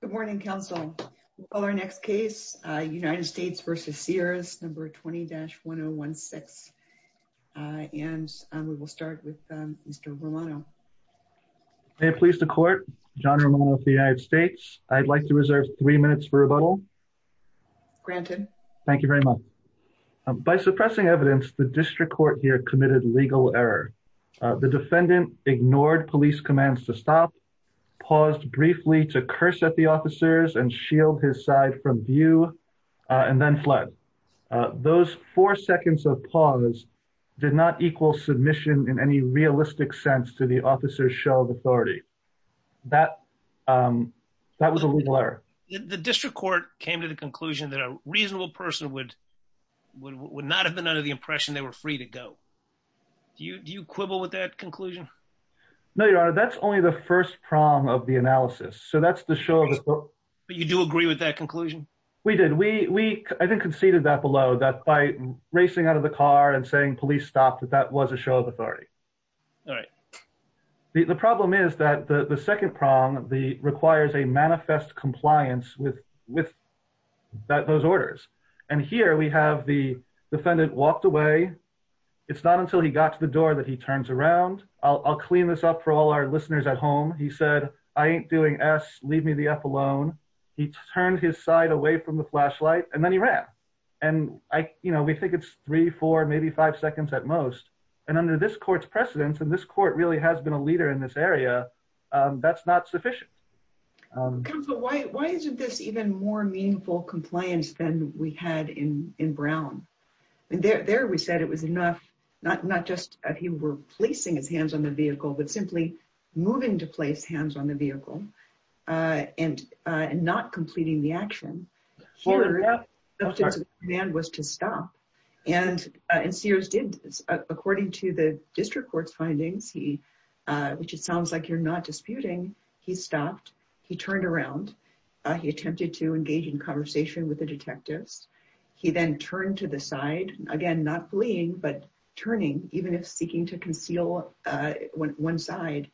Good morning, Council. Our next case, United States v. Sears, number 20-1016, and we will start with Mr. Romano. May it please the Court, John Romano of the United States. I'd like to reserve three minutes for rebuttal. Granted. Thank you very much. By suppressing evidence, the District Court here committed legal error. The defendant ignored police commands to stop, paused briefly to curse at the officers and shield his side from view, and then fled. Those four seconds of pause did not equal submission in any realistic sense to the officer's show of authority. That was a legal error. The District Court came to the conclusion that a reasonable person would not have been under the impression they were free to go. Do you quibble with that conclusion? We did. We, I think, conceded that below, that by racing out of the car and saying police stopped, that that was a show of authority. The problem is that the second prong requires a manifest compliance with those orders. And here we have the defendant walked away. It's not until he got to the door that he turns around. I'll clean this up for all our listeners at home. He said, I ain't doing S, leave me the F alone. He turned his side away from the flashlight and then he ran. And I, you know, we think it's three, four, maybe five seconds at most. And under this court's precedence, and this court really has been a leader in this area, that's not sufficient. Counsel, why isn't this even more meaningful compliance than we had in Brown? There we said it was enough, not just that he were placing his hands on the vehicle, but simply moving to place hands on the vehicle and not completing the action. The command was to stop. And, and Sears did, according to the district court's findings, he, which it sounds like you're not disputing, he stopped, he turned around, he attempted to engage in conversation with the detectives. He then turned to the side, again, not fleeing, but turning, even if seeking to conceal one side.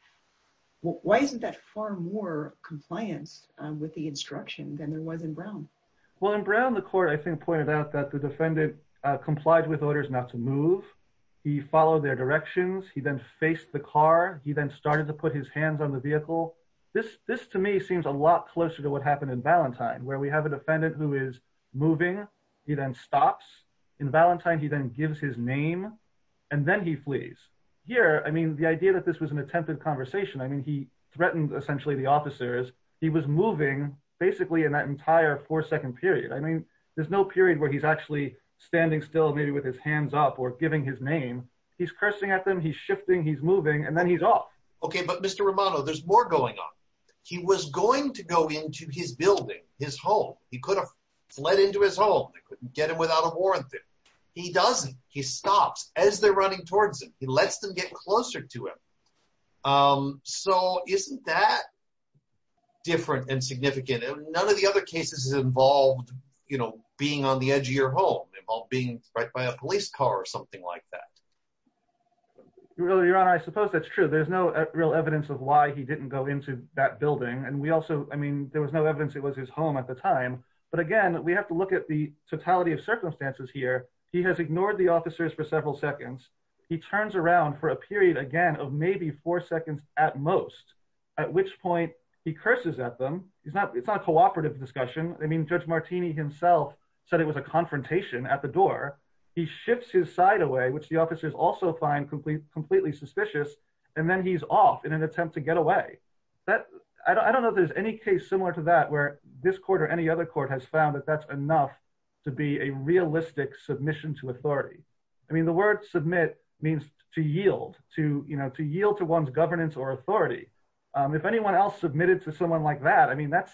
Why isn't that far more compliance with the instruction than there was in Brown? Well, in Brown, the court, I think, pointed out that the defendant complied with orders not to move. He followed their directions, he then faced the car, he then started to put his hands on the vehicle. This, this to me seems a lot closer to what happened in Valentine, where we have a In Valentine, he then gives his name, and then he flees. Here, I mean, the idea that this was an attempted conversation, I mean, he threatened, essentially, the officers, he was moving, basically, in that entire four second period. I mean, there's no period where he's actually standing still, maybe with his hands up or giving his name. He's cursing at them, he's shifting, he's moving, and then he's off. Okay, but Mr. Romano, there's more going on. He was going to go into his building, his home, he could have fled into his home, they couldn't get him without a warrant there. He doesn't, he stops as they're running towards him, he lets them get closer to him. So isn't that different and significant? And none of the other cases involved, you know, being on the edge of your home, involved being right by a police car or something like that. Really, Your Honor, I suppose that's true. There's no real evidence of why he didn't go into that but again, we have to look at the totality of circumstances here. He has ignored the officers for several seconds. He turns around for a period, again, of maybe four seconds at most, at which point he curses at them. It's not a cooperative discussion. I mean, Judge Martini himself said it was a confrontation at the door. He shifts his side away, which the officers also find completely suspicious, and then he's off in an attempt to get away. I don't know if there's any case similar to that where this court or any other court has found that that's enough to be a realistic submission to authority. I mean, the word submit means to yield, to, you know, to yield to one's governance or authority. If anyone else submitted to someone like that, I mean, that's,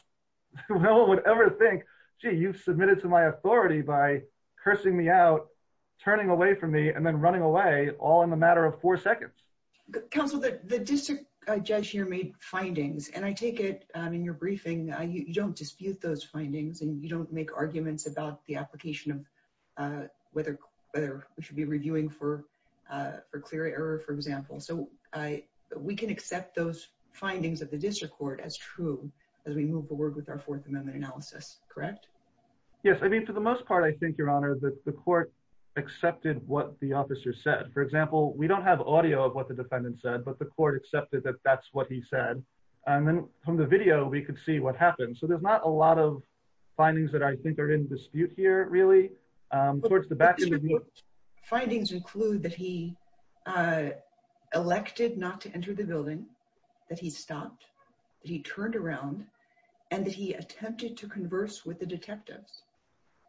no one would ever think, gee, you've submitted to my authority by cursing me out, turning away from me and then running away all in a matter of four seconds. Counsel, the district judge here made findings, and I take it in your briefing, you don't dispute those findings, and you don't make arguments about the application of whether we should be reviewing for clear error, for example. So we can accept those findings of the district court as true as we move forward with our Fourth Amendment analysis, correct? Yes, I mean, for the most part, I think, Your Honor, that the court accepted what the officer said. For the most part, I think, Your Honor, that the court accepted what the defendant said, but the court accepted that that's what he said. And then from the video, we could see what happened. So there's not a lot of findings that I think are in dispute here, really. Towards the back of the view... But the court's findings include that he elected not to enter the building, that he stopped, that he turned around, and that he attempted to converse with the detectives.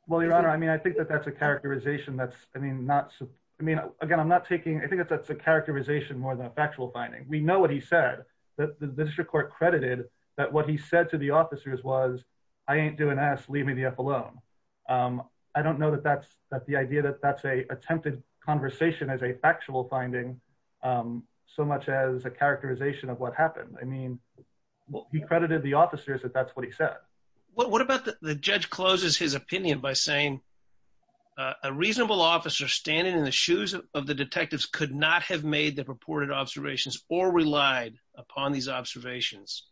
Well, Your Honor, I mean, I think that that's a characterization that's, I mean, not... I mean, again, I'm not taking... I think that's a characterization more than a factual finding. We know what he said, that the district court credited that what he said to the officers was, I ain't doing this, leave me the eff alone. I don't know that that's... that the idea that that's a attempted conversation as a factual finding, so much as a characterization of what happened. I mean, well, he credited the officers that that's what he said. What about the judge closes his opinion by saying, a reasonable officer standing in the shoes of the detectives could not have made the purported observations or relied upon these observations.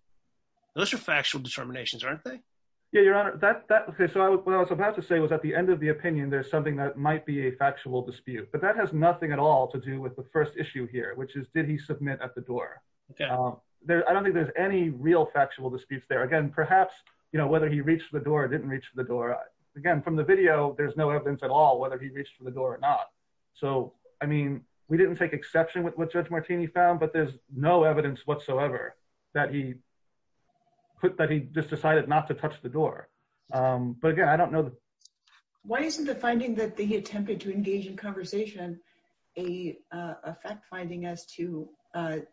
Those are factual determinations, aren't they? Yeah, Your Honor, that... Okay, so what I was about to say was at the end of the opinion, there's something that might be a factual dispute. But that has nothing at all to do with the first issue here, which is, did he submit at the door? I don't think there's any real factual disputes there. Again, perhaps, you know, whether he reached the door or didn't reach the door. Again, from the video, there's no evidence at all whether he reached for the door or not. So, I mean, we didn't take exception with what Judge Martini found, but there's no evidence whatsoever that he put that he just decided not to touch the door. But again, I don't know. Why isn't the finding that he attempted to engage in conversation, a fact finding as to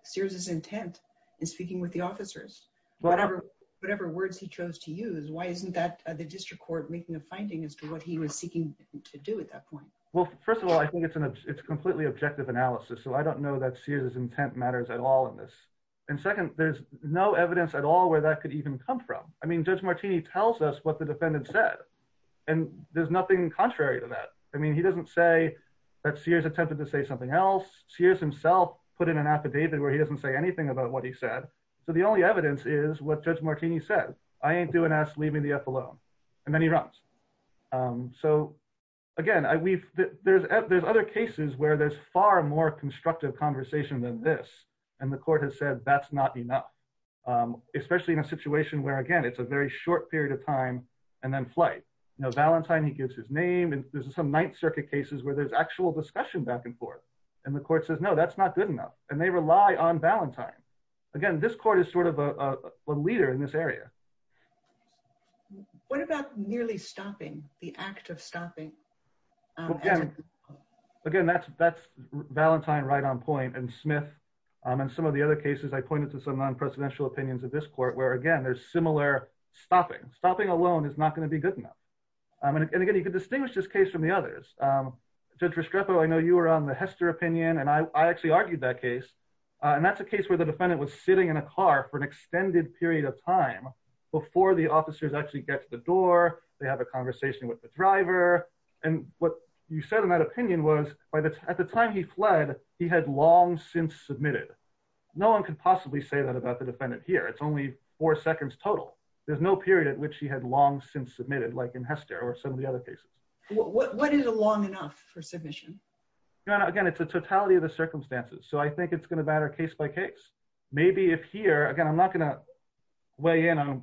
Sears' intent in speaking with the officers? Whatever words he chose to use, why isn't that the district court making a finding as to what he was seeking to do at that point? Well, first of all, I think it's completely objective analysis. So I don't know that Sears' intent matters at all in this. And second, there's no evidence at all where that could even come from. I mean, Judge Martini tells us what the defendant said, and there's nothing contrary to that. I mean, he doesn't say that Sears attempted to say something else. Sears himself put in an affidavit where he doesn't say anything about what he said. So the only evidence is what Judge Martini said, I ain't doing us leaving the F alone, and then he runs. So again, there's other cases where there's far more constructive conversation than this. And the court has said, that's not enough, especially in a situation where, again, it's a very short period of time and then flight. You know, Valentine, he gives his name and there's some Ninth Circuit cases where there's actual discussion back and forth. And the court says, no, that's not good enough. And they rely on Valentine. Again, this court is sort of a leader in this area. What about nearly stopping, the act of stopping? Again, that's Valentine right on point and Smith. And some of the other cases, I pointed to some non-presidential opinions of this court, where again, there's similar stopping. Stopping alone is not going to be good enough. And again, you can distinguish this case from the others. Judge Restrepo, I know you were on the Hester opinion, and I actually argued that case. And that's a case where the defendant was sitting in a car for an extended period of time before the officers actually get to the door, they have a conversation with the driver. And what you said in that opinion was at the time he fled, he had long since submitted. No one could possibly say that about the defendant here. It's only four seconds total. There's no period at which he had long since submitted like in Hester or some of the other cases. What is a long enough for submission? Again, it's a totality of the circumstances. So I think it's going to matter case by case. Maybe if here, again, I'm not going to weigh in on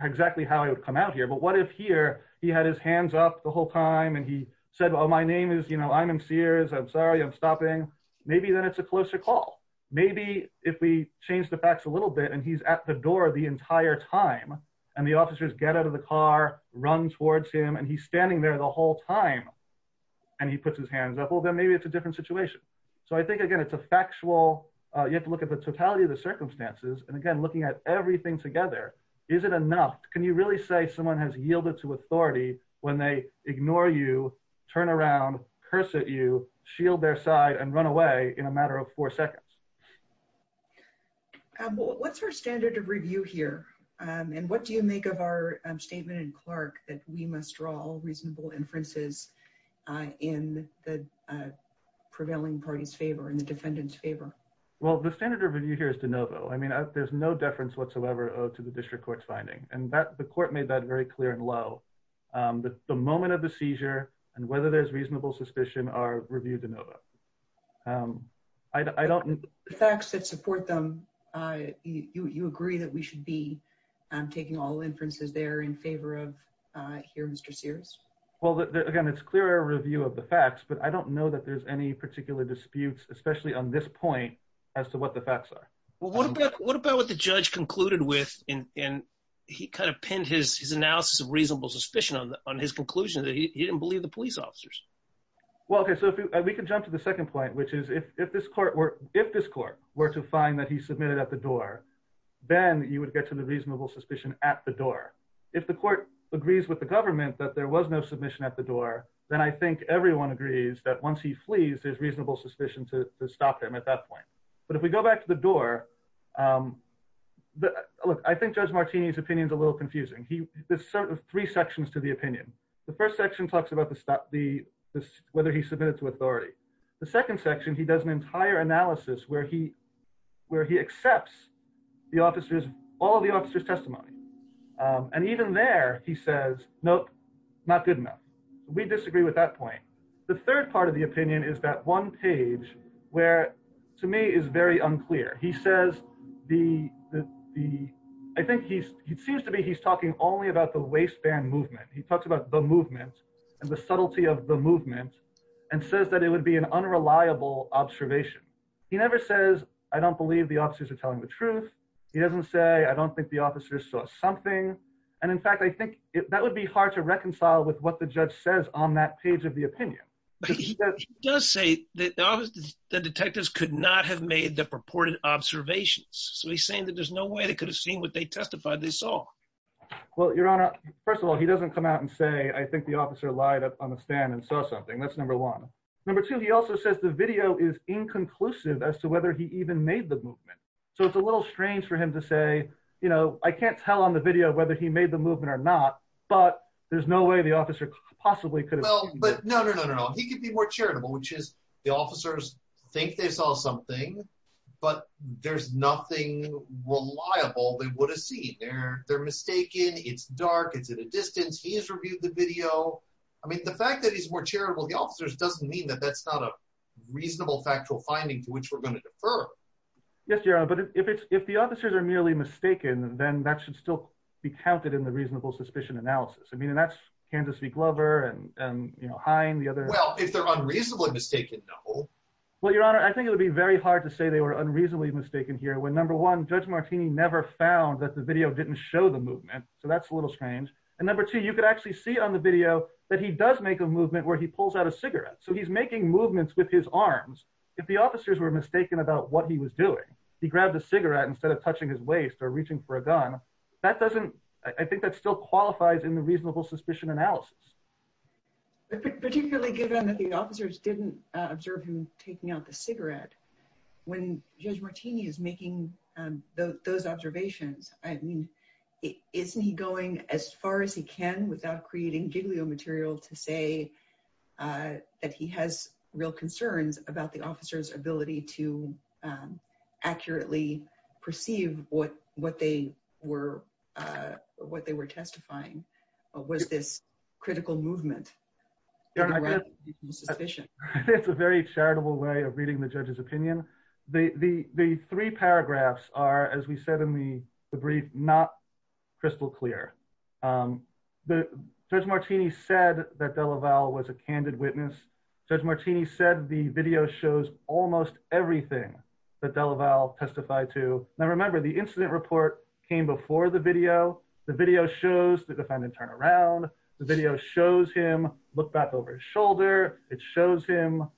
exactly how he would come out here, but what if here he had his hands up the whole time and he said, well, my name is, you know, I'm in Sears. I'm sorry, I'm stopping. Maybe then it's a closer call. Maybe if we change the facts a little bit and he's at the door the entire time and the officers get out of the car, run towards him, and he's standing there the whole time and he puts his hands up, well, then maybe it's a different situation. So I think, again, it's a factual, you have to look at the totality of the circumstances. And again, looking at everything together, is it enough? Can you really say someone has yielded to authority when they ignore you, turn around, curse at you, shield their side, and run away in a matter of four seconds? What's our standard of review here? And what do you make of our statement in Clark that we must draw all reasonable inferences in the prevailing party's favor, in the defendant's favor? Well, the standard of review here is de novo. I mean, there's no deference whatsoever owed to the district court's finding. And the court made that very clear and low. The moment of the seizure and whether there's reasonable suspicion are reviewed de novo. I don't... The facts that support them, you agree that we should be taking all inferences there in favor of here, Mr. Sears? Well, again, it's clear a review of the facts, but I don't know that there's any particular disputes, especially on this point, as to what the facts are. Well, what about what the judge concluded with, and he kind of pinned his analysis of reasonable suspicion on his conclusion that he didn't believe the police officers? Well, okay, so we can jump to the second point, which is if this court were to find that he submitted at the door, then you would get to the reasonable suspicion at the door. If the court agrees with the government that there was no submission at the door, then I think everyone agrees that once he flees, there's reasonable suspicion to stop him at that point. But if we go back to the door, look, I think Judge Martini's opinion is a little confusing. There's sort of three sections to the opinion. The first section talks about whether he submitted to authority. The second section, he does an entire analysis where he accepts all of the officer's testimony. And even there, he says, nope, not good enough. We disagree with that point. The third part of the opinion is that one page where, to me, is very unclear. I think it seems to be he's talking only about the waistband movement. He talks about the movement and the subtlety of the movement and says that it would be an unreliable observation. He never says, I don't believe the officers are telling the truth. He doesn't say, I don't think the officers saw something. And in fact, I think that would be hard to reconcile with what the judge says on that page of the opinion. But he does say that the detectives could not have made the purported observations. So he's saying that there's no way they could have seen what they testified they saw. Well, Your Honor, first of all, he doesn't come out and say, I think the officer lied up on the video. That's number one. Number two, he also says the video is inconclusive as to whether he even made the movement. So it's a little strange for him to say, you know, I can't tell on the video whether he made the movement or not, but there's no way the officer possibly could have. Well, but no, no, no, no, no. He could be more charitable, which is the officers think they saw something, but there's nothing reliable they would have seen. They're mistaken, it's dark, it's in the distance. He's reviewed the video. I mean, the fact that he's more charitable, the officers doesn't mean that that's not a reasonable factual finding to which we're going to defer. Yes, Your Honor, but if the officers are merely mistaken, then that should still be counted in the reasonable suspicion analysis. I mean, and that's Kansas v. Glover and, you know, Hine, the other. Well, if they're unreasonably mistaken, no. Well, Your Honor, I think it would be very hard to say they were unreasonably mistaken here when, number one, Judge Martini never found that the video didn't show the movement. So that's a number two, you could actually see on the video that he does make a movement where he pulls out a cigarette. So he's making movements with his arms. If the officers were mistaken about what he was doing, he grabbed a cigarette instead of touching his waist or reaching for a gun, that doesn't, I think that still qualifies in the reasonable suspicion analysis. Particularly given that the officers didn't observe him taking out the cigarette, when Judge Martini is making those observations, I mean, isn't he going as far as he can without creating giglio material to say that he has real concerns about the officer's ability to accurately perceive what they were testifying? Was this critical movement? Your Honor, I think it's a very charitable way of reading the judge's opinion. The three paragraphs are, as we said in the brief, not crystal clear. Judge Martini said that Delaval was a candid witness. Judge Martini said the video shows almost everything that Delaval testified to. Now remember, the incident report came before the video. The video shows the defendant turn around. The video shows him look back over his shoulder. It shows him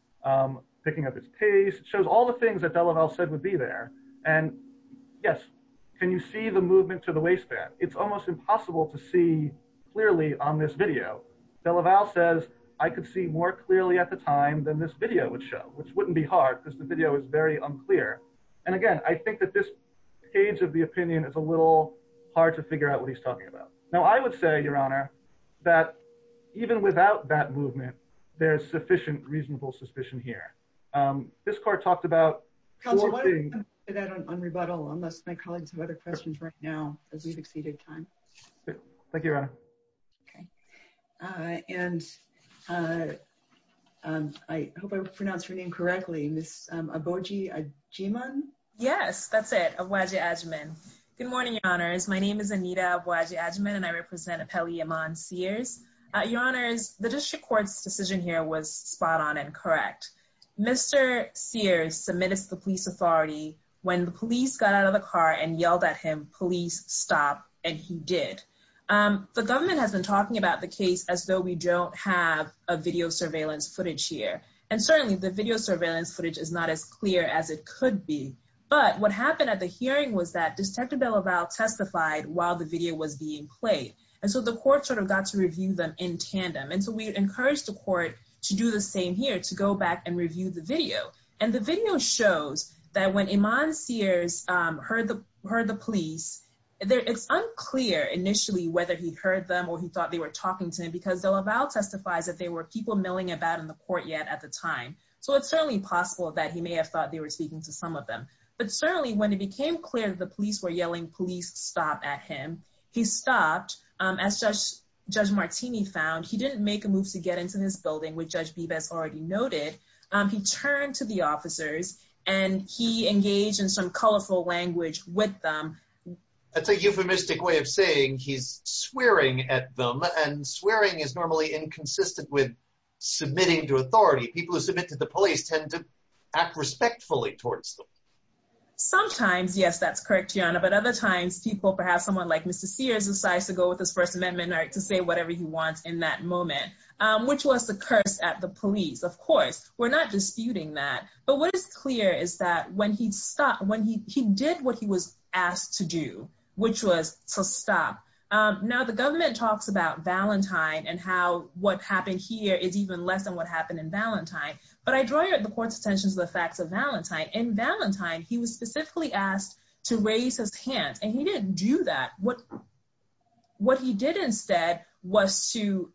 picking up his pace. It shows all the things that Delaval said would be there. And yes, can you see the movement to the waistband? It's almost impossible to see clearly on this video. Delaval says, I could see more clearly at the time than this video would show, which wouldn't be hard because the video is very unclear. And again, I think that this page of the opinion is a little hard to figure out what he's talking about. Now, I would say, Your Honor, that even without that movement, there is sufficient reasonable suspicion here. This court talked about... Counselor, why don't we leave that on rebuttal unless my colleagues have other questions right now as we've exceeded time. Thank you, Your Honor. Okay. And I hope I pronounced your name correctly, Ms. Aboji Ajiman? Yes, that's it, Aboji Ajiman. Good morning, Your Honors. My name is Anita Aboji Ajiman, and I represent Appellee Iman Sears. Your Honors, the district court's decision here was spot on and correct. Mr. Sears submitted to the police authority. When the police got out of the car and yelled at him, police stop, and he did. The government has been talking about the case as though we don't have a video surveillance footage here. And certainly the video surveillance footage is not as clear as it could be. But what happened at the hearing was that Detective DeLaval testified while the video was being played. And so the court sort of got to review them in tandem. And so we encouraged the court to do the same here, to go back and review the video. And the video shows that when Iman Sears heard the police, it's unclear initially whether he heard them or he thought they were talking to him because DeLaval testifies that there were people milling about in the court yet at the time. So it's certainly possible that he may have thought they were speaking to some of them. But certainly when it became clear that the police were yelling, police stop at him, he stopped. As Judge Martini found, he didn't make a move to get into this building, which Judge Bebas already noted. He turned to the officers and he engaged in some colorful language with them. That's a euphemistic way of saying he's swearing at them. And swearing is normally inconsistent with submitting to authority. People who submit to the police tend to act respectfully towards them. Sometimes, yes, that's correct, Your Honor. But other times people, perhaps someone like Mr. Sears decides to go with his First Amendment or to say whatever he wants in that moment, which was the curse at the police. Of course, we're not disputing that. But what is clear is that when he stopped, when he did what he was asked to do, which was to stop. Now the government talks about Valentine and how what happened here is even less than what happened in Valentine. But I draw the court's attention to the facts of Valentine. In Valentine, he was specifically asked to raise his hand and he didn't do that. What he did instead was to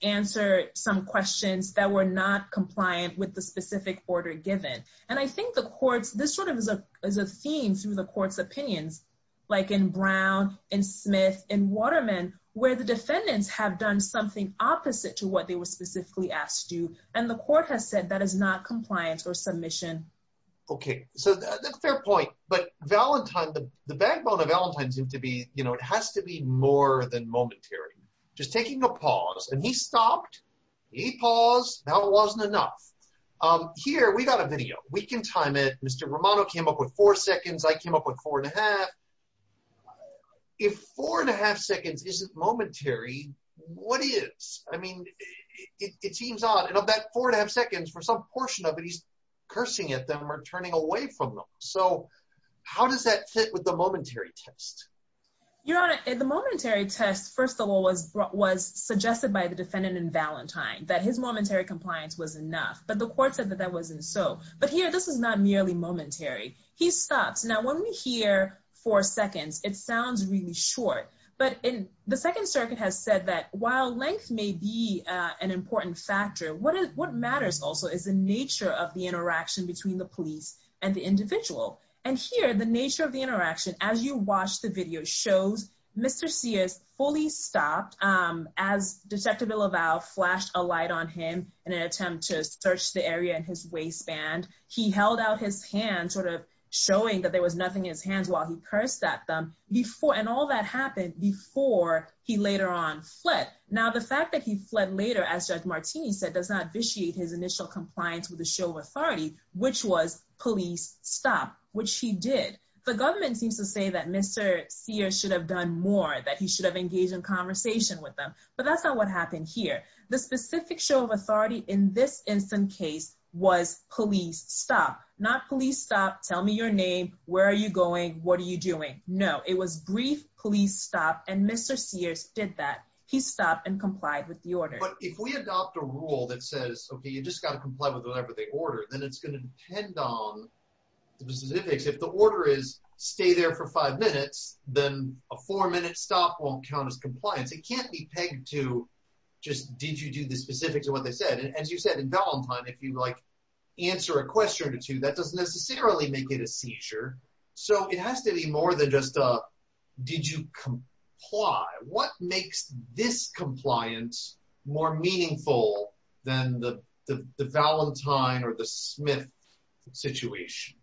answer some questions that were not compliant with the specific order given. And I think the courts, this sort of is a theme through the court's opinions, like in Brown, in Smith, in Waterman, where the defendants have done something opposite to what they were specifically asked to do. And the court has said that is not compliant or submission. Okay, so that's a fair point. But Valentine, the backbone of Valentine seems to be, you know, it has to be more than momentary. Just taking a pause, and he stopped, he paused, that wasn't enough. Here, we got a video, we can time it. Mr. Romano came up with I mean, it seems odd. And of that four and a half seconds, for some portion of it, he's cursing at them or turning away from them. So how does that fit with the momentary test? Your Honor, the momentary test, first of all, was suggested by the defendant in Valentine, that his momentary compliance was enough. But the court said that that wasn't so. But here, this is not merely momentary. He stops. Now when we hear four seconds, it sounds really short. But in the Second Circuit has said that while length may be an important factor, what is what matters also is the nature of the interaction between the police and the individual. And here, the nature of the interaction, as you watch the video shows, Mr. Sears fully stopped, as Detective Laval flashed a light on him in an attempt to search the area in his waistband. He held out his hand sort of showing that there was nothing in his hands while he cursed at them before. And all that happened before he later on fled. Now, the fact that he fled later, as Judge Martini said, does not vitiate his initial compliance with the show of authority, which was police stop, which he did. The government seems to say that Mr. Sears should have done more, that he should have engaged in conversation with them. But that's not what happened here. The specific show of authority in this instant case was police stop, not police stop, tell me your name, where are you going? What are you doing? No, it was brief police stop. And Mr. Sears did that. He stopped and complied with the order. But if we adopt a rule that says, okay, you just got to comply with whatever they order, then it's going to depend on the specifics. If the order is stay there for five minutes, then a four minute stop won't count as compliance. It can't be pegged to just, did you do the specifics of what they said? And as you said, in Valentine, if you like, answer a question or two, that doesn't necessarily make it a seizure. So it has to be more than just, did you comply? What makes this compliance more meaningful than the Valentine or the Smith situation?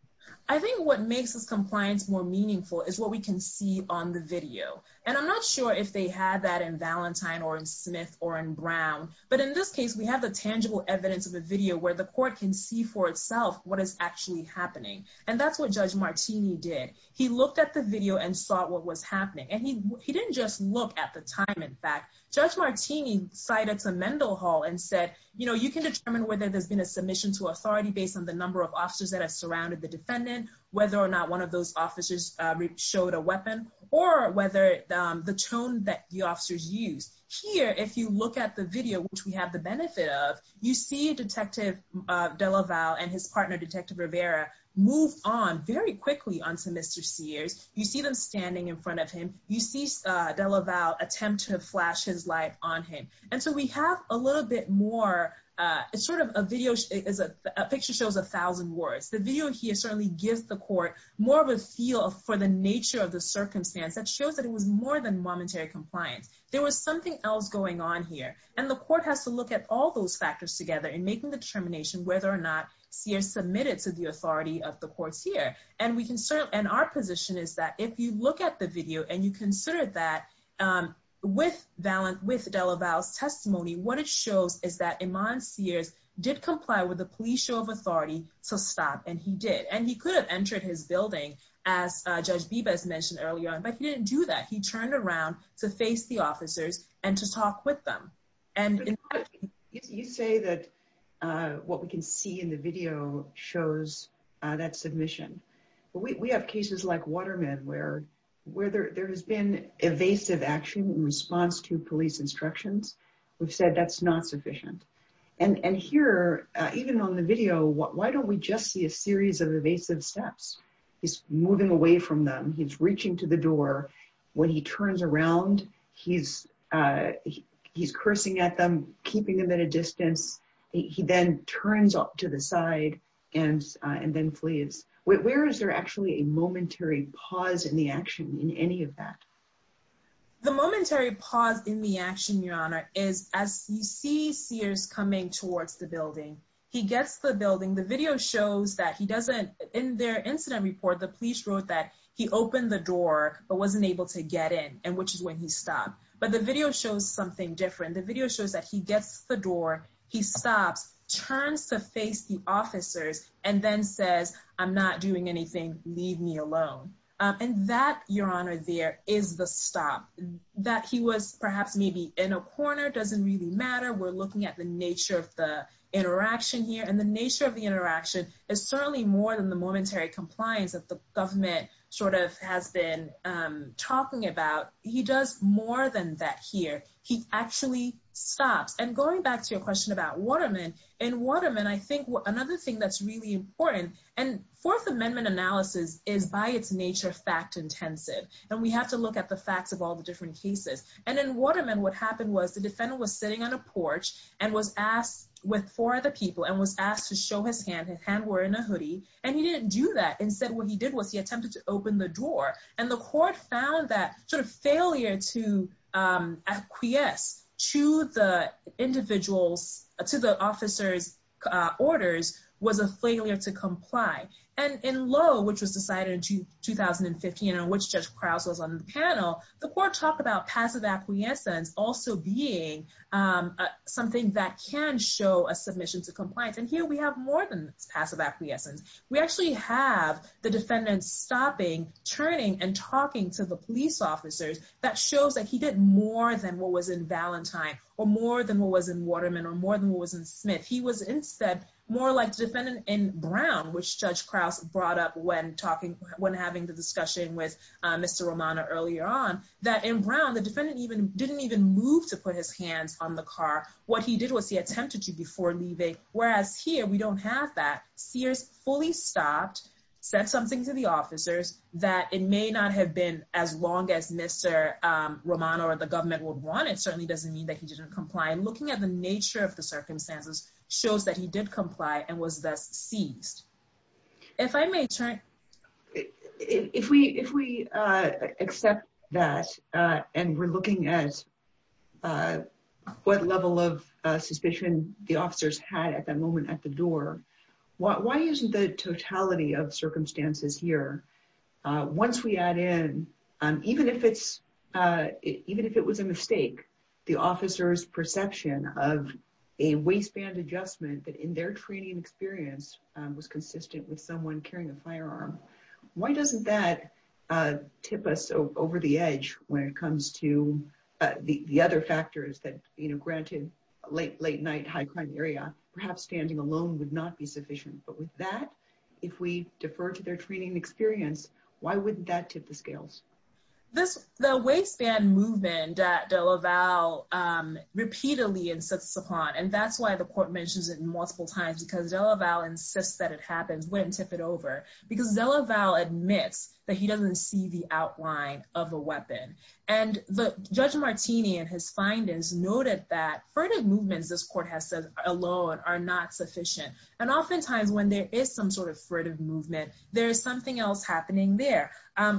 I think what makes this compliance more meaningful is what we can see on the video. And I'm not sure if they had that in Valentine or in Smith or in Smith. In this case, we have the tangible evidence of a video where the court can see for itself what is actually happening. And that's what judge Martini did. He looked at the video and saw what was happening. And he didn't just look at the time. In fact, judge Martini cited to Mendel Hall and said, you can determine whether there's been a submission to authority based on the number of officers that have surrounded the defendant, whether or not one of those officers showed a weapon or whether the tone that the officers used. Here, if you look at the video, which we have the benefit of, you see detective De La Val and his partner, detective Rivera, move on very quickly onto Mr. Sears. You see them standing in front of him. You see De La Val attempt to flash his light on him. And so we have a little bit more, it's sort of a video, is a picture shows a thousand words. The video here certainly gives the court more of a feel for the nature of the circumstance that shows that it was more than momentary compliance. There was something else going on here. And the court has to look at all those factors together in making the determination whether or not Sears submitted to the authority of the courts here. And we can certainly, and our position is that if you look at the video and you consider that with De La Val's testimony, what it shows is that Iman Sears did comply with the police show of authority to stop. And he did. And he could have entered his building as judge Bibas mentioned earlier on, but he didn't do that. He turned around to face the officers and to talk with them. You say that what we can see in the video shows that submission. We have cases like Waterman where there has been evasive action in response to police instructions. We've said that's not sufficient. And here, even on the video, why don't we just see a series of evasive steps? He's moving away from them. He's when he turns around, he's cursing at them, keeping them at a distance. He then turns up to the side and then flees. Where is there actually a momentary pause in the action in any of that? The momentary pause in the action, Your Honor, is as you see Sears coming towards the building, he gets the building. The video shows that he doesn't, in their incident report, the police wrote that he opened the door, but wasn't able to get in and which is when he stopped. But the video shows something different. The video shows that he gets the door, he stops, turns to face the officers and then says, I'm not doing anything. Leave me alone. And that, Your Honor, there is the stop. That he was perhaps maybe in a corner doesn't really matter. We're looking at the nature of the interaction here. And the nature of the interaction is certainly more than the momentary compliance that the government sort of has been talking about. He does more than that here. He actually stops. And going back to your question about Waterman, in Waterman, I think another thing that's really important and Fourth Amendment analysis is by its nature fact intensive. And we have to look at the facts of all the different cases. And in Waterman, what happened was the defendant was sitting on a porch and was asked with four other people and was asked to show his hand. His hand were in a hoodie and he didn't do that. Instead, what he did was he attempted to open the door and the court found that sort of failure to acquiesce to the individual's, to the officer's orders was a failure to comply. And in Lowe, which was decided in 2015 and which Judge Krause was on the panel, the court talked about passive acquiescence also being something that can show a submission to compliance. And here we have more than passive acquiescence. We actually have the defendant stopping, turning and talking to the police officers that shows that he did more than what was in Valentine or more than what was in Waterman or more than what was in Smith. He was instead more like the defendant in Brown, which Judge Krause brought up when talking, when having the discussion with Mr. Romano earlier on, that in Brown, the defendant even moved to put his hands on the car. What he did was he attempted to before leaving. Whereas here, we don't have that. Sears fully stopped, said something to the officers that it may not have been as long as Mr. Romano or the government would want. It certainly doesn't mean that he didn't comply. And looking at the nature of the circumstances shows that he did comply and was seized. If we accept that and we're looking at what level of suspicion the officers had at that moment at the door, why isn't the totality of circumstances here? Once we add in, even if it was a mistake, the officer's perception of a waistband adjustment that in their training experience was consistent with someone carrying a firearm, why doesn't that tip us over the edge when it comes to the other factors that, you know, granted late night, high crime area, perhaps standing alone would not be sufficient. But with that, if we defer to their training experience, why wouldn't that tip the scales? This, the waistband movement that De La Val repeatedly insists upon, and that's why the court mentions it multiple times, because De La Val insists that it happens, wouldn't tip it over, because De La Val admits that he doesn't see the outline of a weapon. And Judge Martini and his findings noted that furtive movements, this court has said, alone are not sufficient. And oftentimes when there is some sort of furtive movement, there is something else happening there.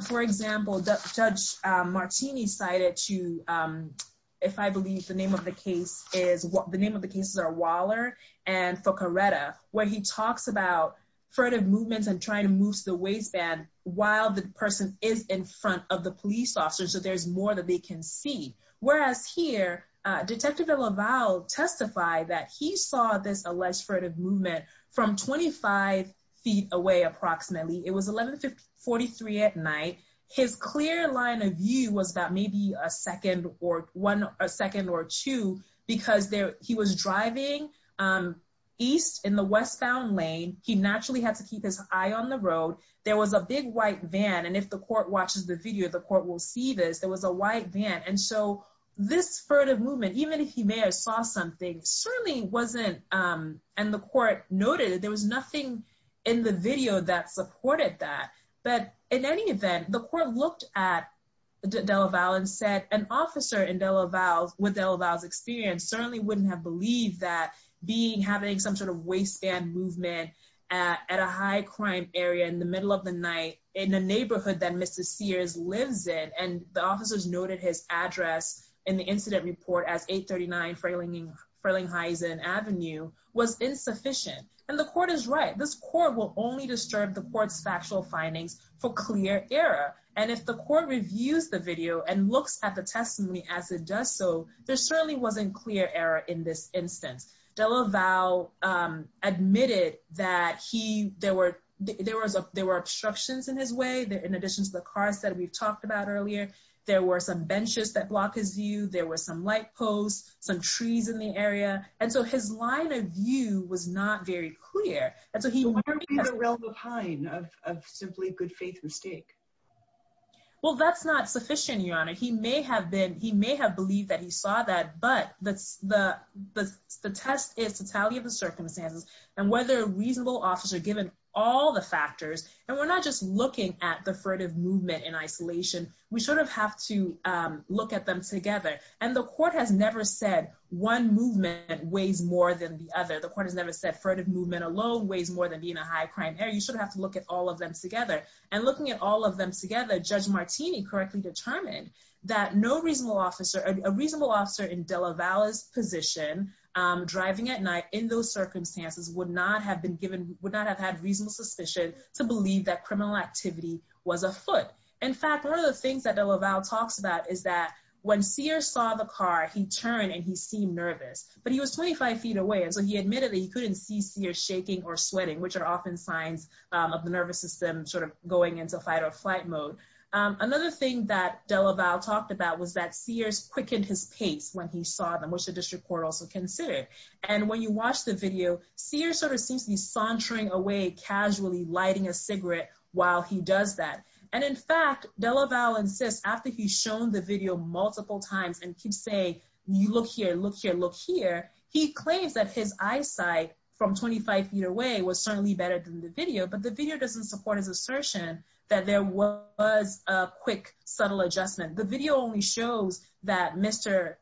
For example, Judge Martini cited to, if I believe the name of the case is, the name of the cases are Waller and Foccaretta, where he talks about furtive movements and trying to move to the waistband while the person is in front of the police officer, so there's more that they can see. Whereas here, Detective De La Val testified that he saw this alleged furtive movement from 25 feet away, approximately. It was 1143 at night. His clear line of view was about maybe a second or one, a second or two, because he was driving east in the westbound lane. He naturally had to keep his eye on the road. There was a big white van. And if the court watches the video, the court will see this. There was a white van. And so this furtive movement, even if he may have saw something, certainly wasn't, and the court noted, there was nothing in the video that supported that. But in any event, the court looked at De La Val and said an officer in De La Val, with De La Val's experience, certainly wouldn't have believed that having some sort of waistband movement at a high crime area in the middle of the night in a neighborhood that Mrs. Sears lives in, and the officers noted his address in the incident report as 839 Frelinghuysen Avenue, was insufficient. And the court is right. This court will only disturb the court's factual findings for clear error. And if the court reviews the video and looks at the testimony as it does so, there certainly wasn't clear error in this instance. De La Val admitted that there were obstructions in his way, in addition to the cars that we've talked about earlier. There were some benches that block his view. There were some light posts, some trees in the area. And so his line of view was not very clear. And so he- But what about the realm of Hine, of simply good faith and stake? Well, that's not sufficient, Your Honor. He may have been, he may have believed that he saw that, but the test is totality of the circumstances, and whether a reasonable officer, given all the looking at the furtive movement in isolation, we sort of have to look at them together. And the court has never said one movement weighs more than the other. The court has never said furtive movement alone weighs more than being a high crime area. You sort of have to look at all of them together. And looking at all of them together, Judge Martini correctly determined that no reasonable officer, a reasonable officer in De La Val's position, driving at night in those criminal activity was afoot. In fact, one of the things that De La Val talks about is that when Sears saw the car, he turned and he seemed nervous, but he was 25 feet away. And so he admitted that he couldn't see Sears shaking or sweating, which are often signs of the nervous system sort of going into fight or flight mode. Another thing that De La Val talked about was that Sears quickened his pace when he saw them, which the district court also considered. And when you watch the video, Sears sort of seems to be sauntering away, casually lighting a cigarette while he does that. And in fact, De La Val insists after he's shown the video multiple times and keeps saying, you look here, look here, look here. He claims that his eyesight from 25 feet away was certainly better than the video, but the video doesn't support his assertion that there was a quick, subtle adjustment. The video only shows that Mr.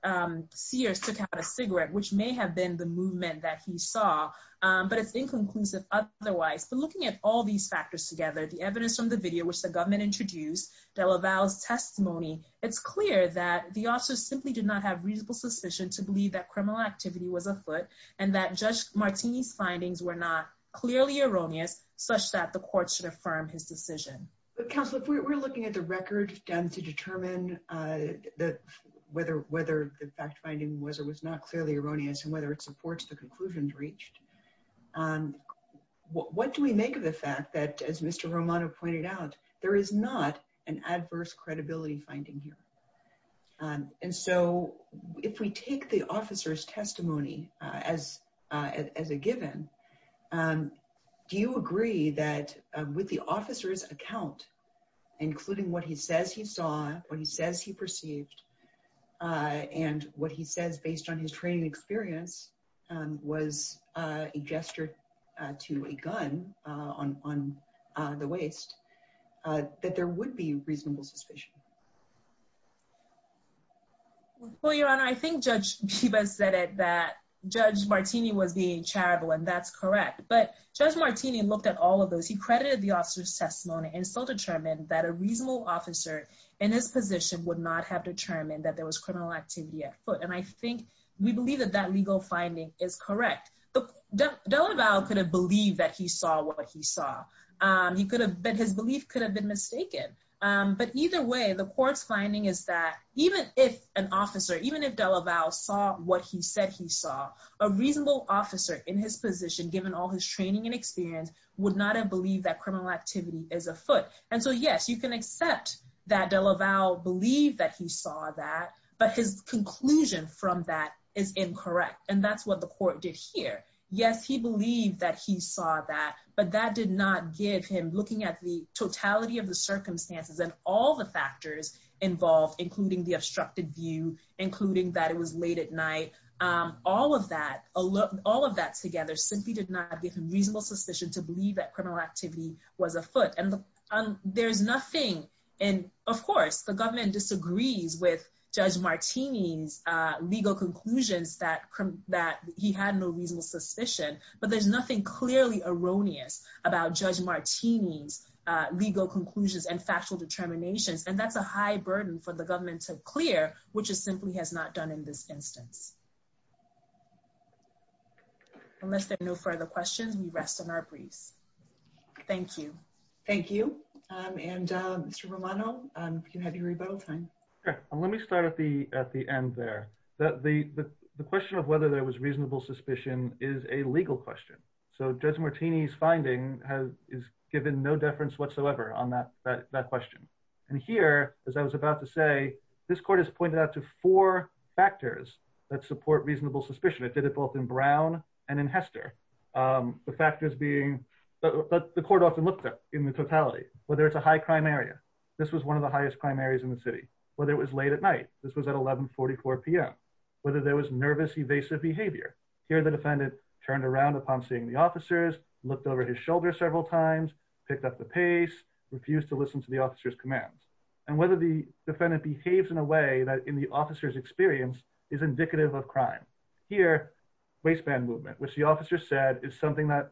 Sears took out a cigarette, which may have been the movement that he saw, but it's inconclusive otherwise. But looking at all these factors together, the evidence from the video, which the government introduced, De La Val's testimony, it's clear that the officer simply did not have reasonable suspicion to believe that criminal activity was afoot and that Judge Martini's findings were not clearly erroneous, such that the court should affirm his decision. But counsel, if we're looking at the record to determine whether the fact finding was or was not clearly erroneous and whether it supports the conclusions reached, what do we make of the fact that, as Mr. Romano pointed out, there is not an adverse credibility finding here? And so if we take the officer's testimony as a given, do you agree that with the officer's account, including what he says he saw, what he says he perceived, and what he says based on his training experience, was a gesture to a gun on the waist, that there would be reasonable suspicion? Well, Your Honor, I think Judge Pippa said it, that Judge Martini was being charitable, and that's correct. But Judge Martini looked at all of those. He credited the officer's testimony and still determined that a reasonable officer in his position would not have determined that there was criminal activity afoot. And I think we believe that that legal finding is correct. De La Val could have believed that he saw what he saw. His belief could have been mistaken. But either way, the court's finding is that even if an officer, even if De La Val saw what he said he saw, a reasonable officer in his position, given all his training and experience, would not have believed that criminal activity is afoot. And so, yes, you can accept that De La Val believed that he saw that, but his conclusion from that is incorrect. And that's what the court did here. Yes, he believed that he saw that, but that did not give him, looking at the totality of circumstances and all the factors involved, including the obstructed view, including that it was late at night, all of that, all of that together simply did not give him reasonable suspicion to believe that criminal activity was afoot. And there's nothing, and of course, the government disagrees with Judge Martini's legal conclusions that he had no reasonable suspicion, but there's nothing clearly erroneous about Judge Martini's legal conclusions and factual determinations, and that's a high burden for the government to clear, which it simply has not done in this instance. Unless there are no further questions, we rest on our briefs. Thank you. Thank you. And Mr. Romano, you have your rebuttal time. Okay, let me start at the end there. The question of whether there was reasonable suspicion is a legal question. So Judge Martini's finding is given no deference whatsoever on that question. And here, as I was about to say, this court has pointed out to four factors that support reasonable suspicion. It did it both in Brown and in Hester. The factors being, the court often looked at in the totality, whether it's a high crime area, this was one of the highest crime areas in the city, whether it was late at night, this was at 11.44 PM, whether there was nervous evasive behavior. Here, the defendant turned around upon seeing the officers, looked over his shoulder several times, picked up the pace, refused to listen to the officer's commands. And whether the defendant behaves in a way that in the officer's experience is indicative of crime. Here, waistband movement, which the officer said is something that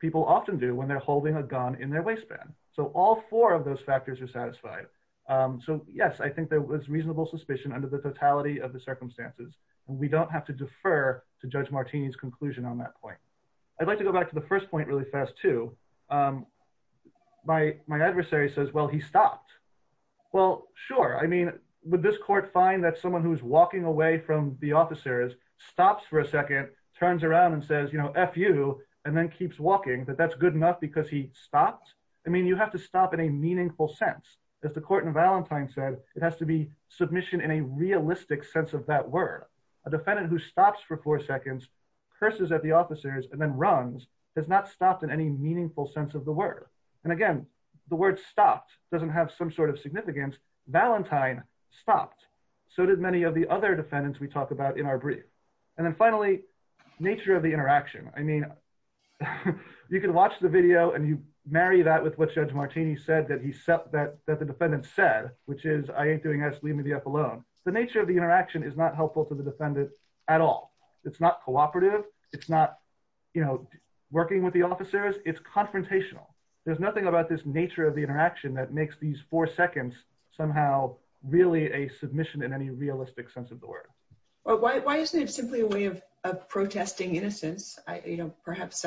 people often do when they're holding a gun in their waistband. So all four of those factors are satisfied. So yes, I think there is reasonable suspicion under the totality of the circumstances. And we don't have to defer to Judge Martini's conclusion on that point. I'd like to go back to the first point really fast, too. My adversary says, well, he stopped. Well, sure. I mean, would this court find that someone who's walking away from the officers stops for a second, turns around and says, you know, F you, and then keeps walking, that that's good enough because he stopped? I mean, you have to stop in a meaningful sense. As the court in Valentine said, it has to be submission in a realistic sense of that word. A defendant who stops for four seconds, curses at the officers, and then runs has not stopped in any meaningful sense of the word. And again, the word stopped doesn't have some sort of significance. Valentine stopped. So did many of the other defendants we talk about in our brief. And then finally, nature of the interaction. I mean, you can watch the video and you marry that with what Judge Martini said that the defendant said, which is, I ain't doing this, leave me the F alone. The nature of the interaction is not helpful to the defendant at all. It's not cooperative. It's not, you know, working with the officers. It's confrontational. There's nothing about this nature of the interaction that makes these four seconds somehow really a submission in any realistic sense of the word. Why isn't it simply a way of protesting innocence? You know, perhaps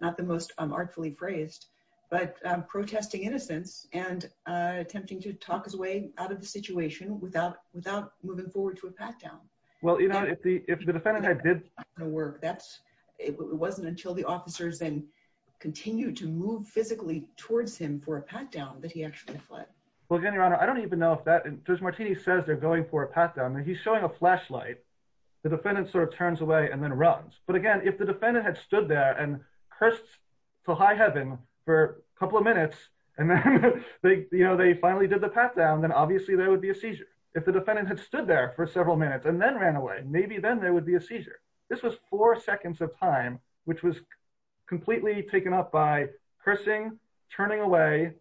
not the most artfully phrased, but protesting innocence and attempting to talk his way out of the situation without moving forward to a pat down. Well, you know, if the defendant did not want to work, it wasn't until the officers then continued to move physically towards him for a pat down that he actually fled. Well, again, Your Honor, I don't even know if that, Judge Martini says they're going for a pat down. He's showing a flashlight. The defendant sort of turns away and then runs. But again, if the defendant had stood there and cursed to high heaven for a couple of minutes, and then, you know, they finally did the pat down, then obviously there would be a seizure. If the defendant had stood there for several minutes and then ran away, maybe then there would be a seizure. This was four seconds of time, which was completely taken up by cursing, turning away.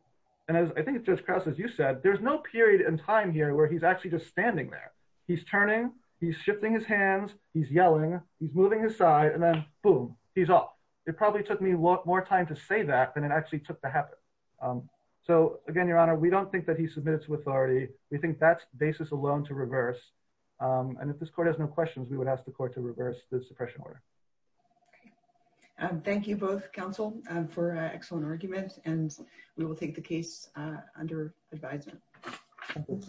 And as I think Judge Krause, as you said, there's no period in time here where he's actually just standing there. He's turning, he's shifting his hands, he's yelling, he's moving his side, and then boom, he's off. It probably took me a lot more time to say that than it actually took to happen. So again, Your Honor, we don't think that he submitted to authority. We think that's basis alone to reverse. And if this court has no questions, we would ask the court to reverse the suppression order. Okay. Thank you both, counsel, for an excellent argument. And we will take the case under advisement.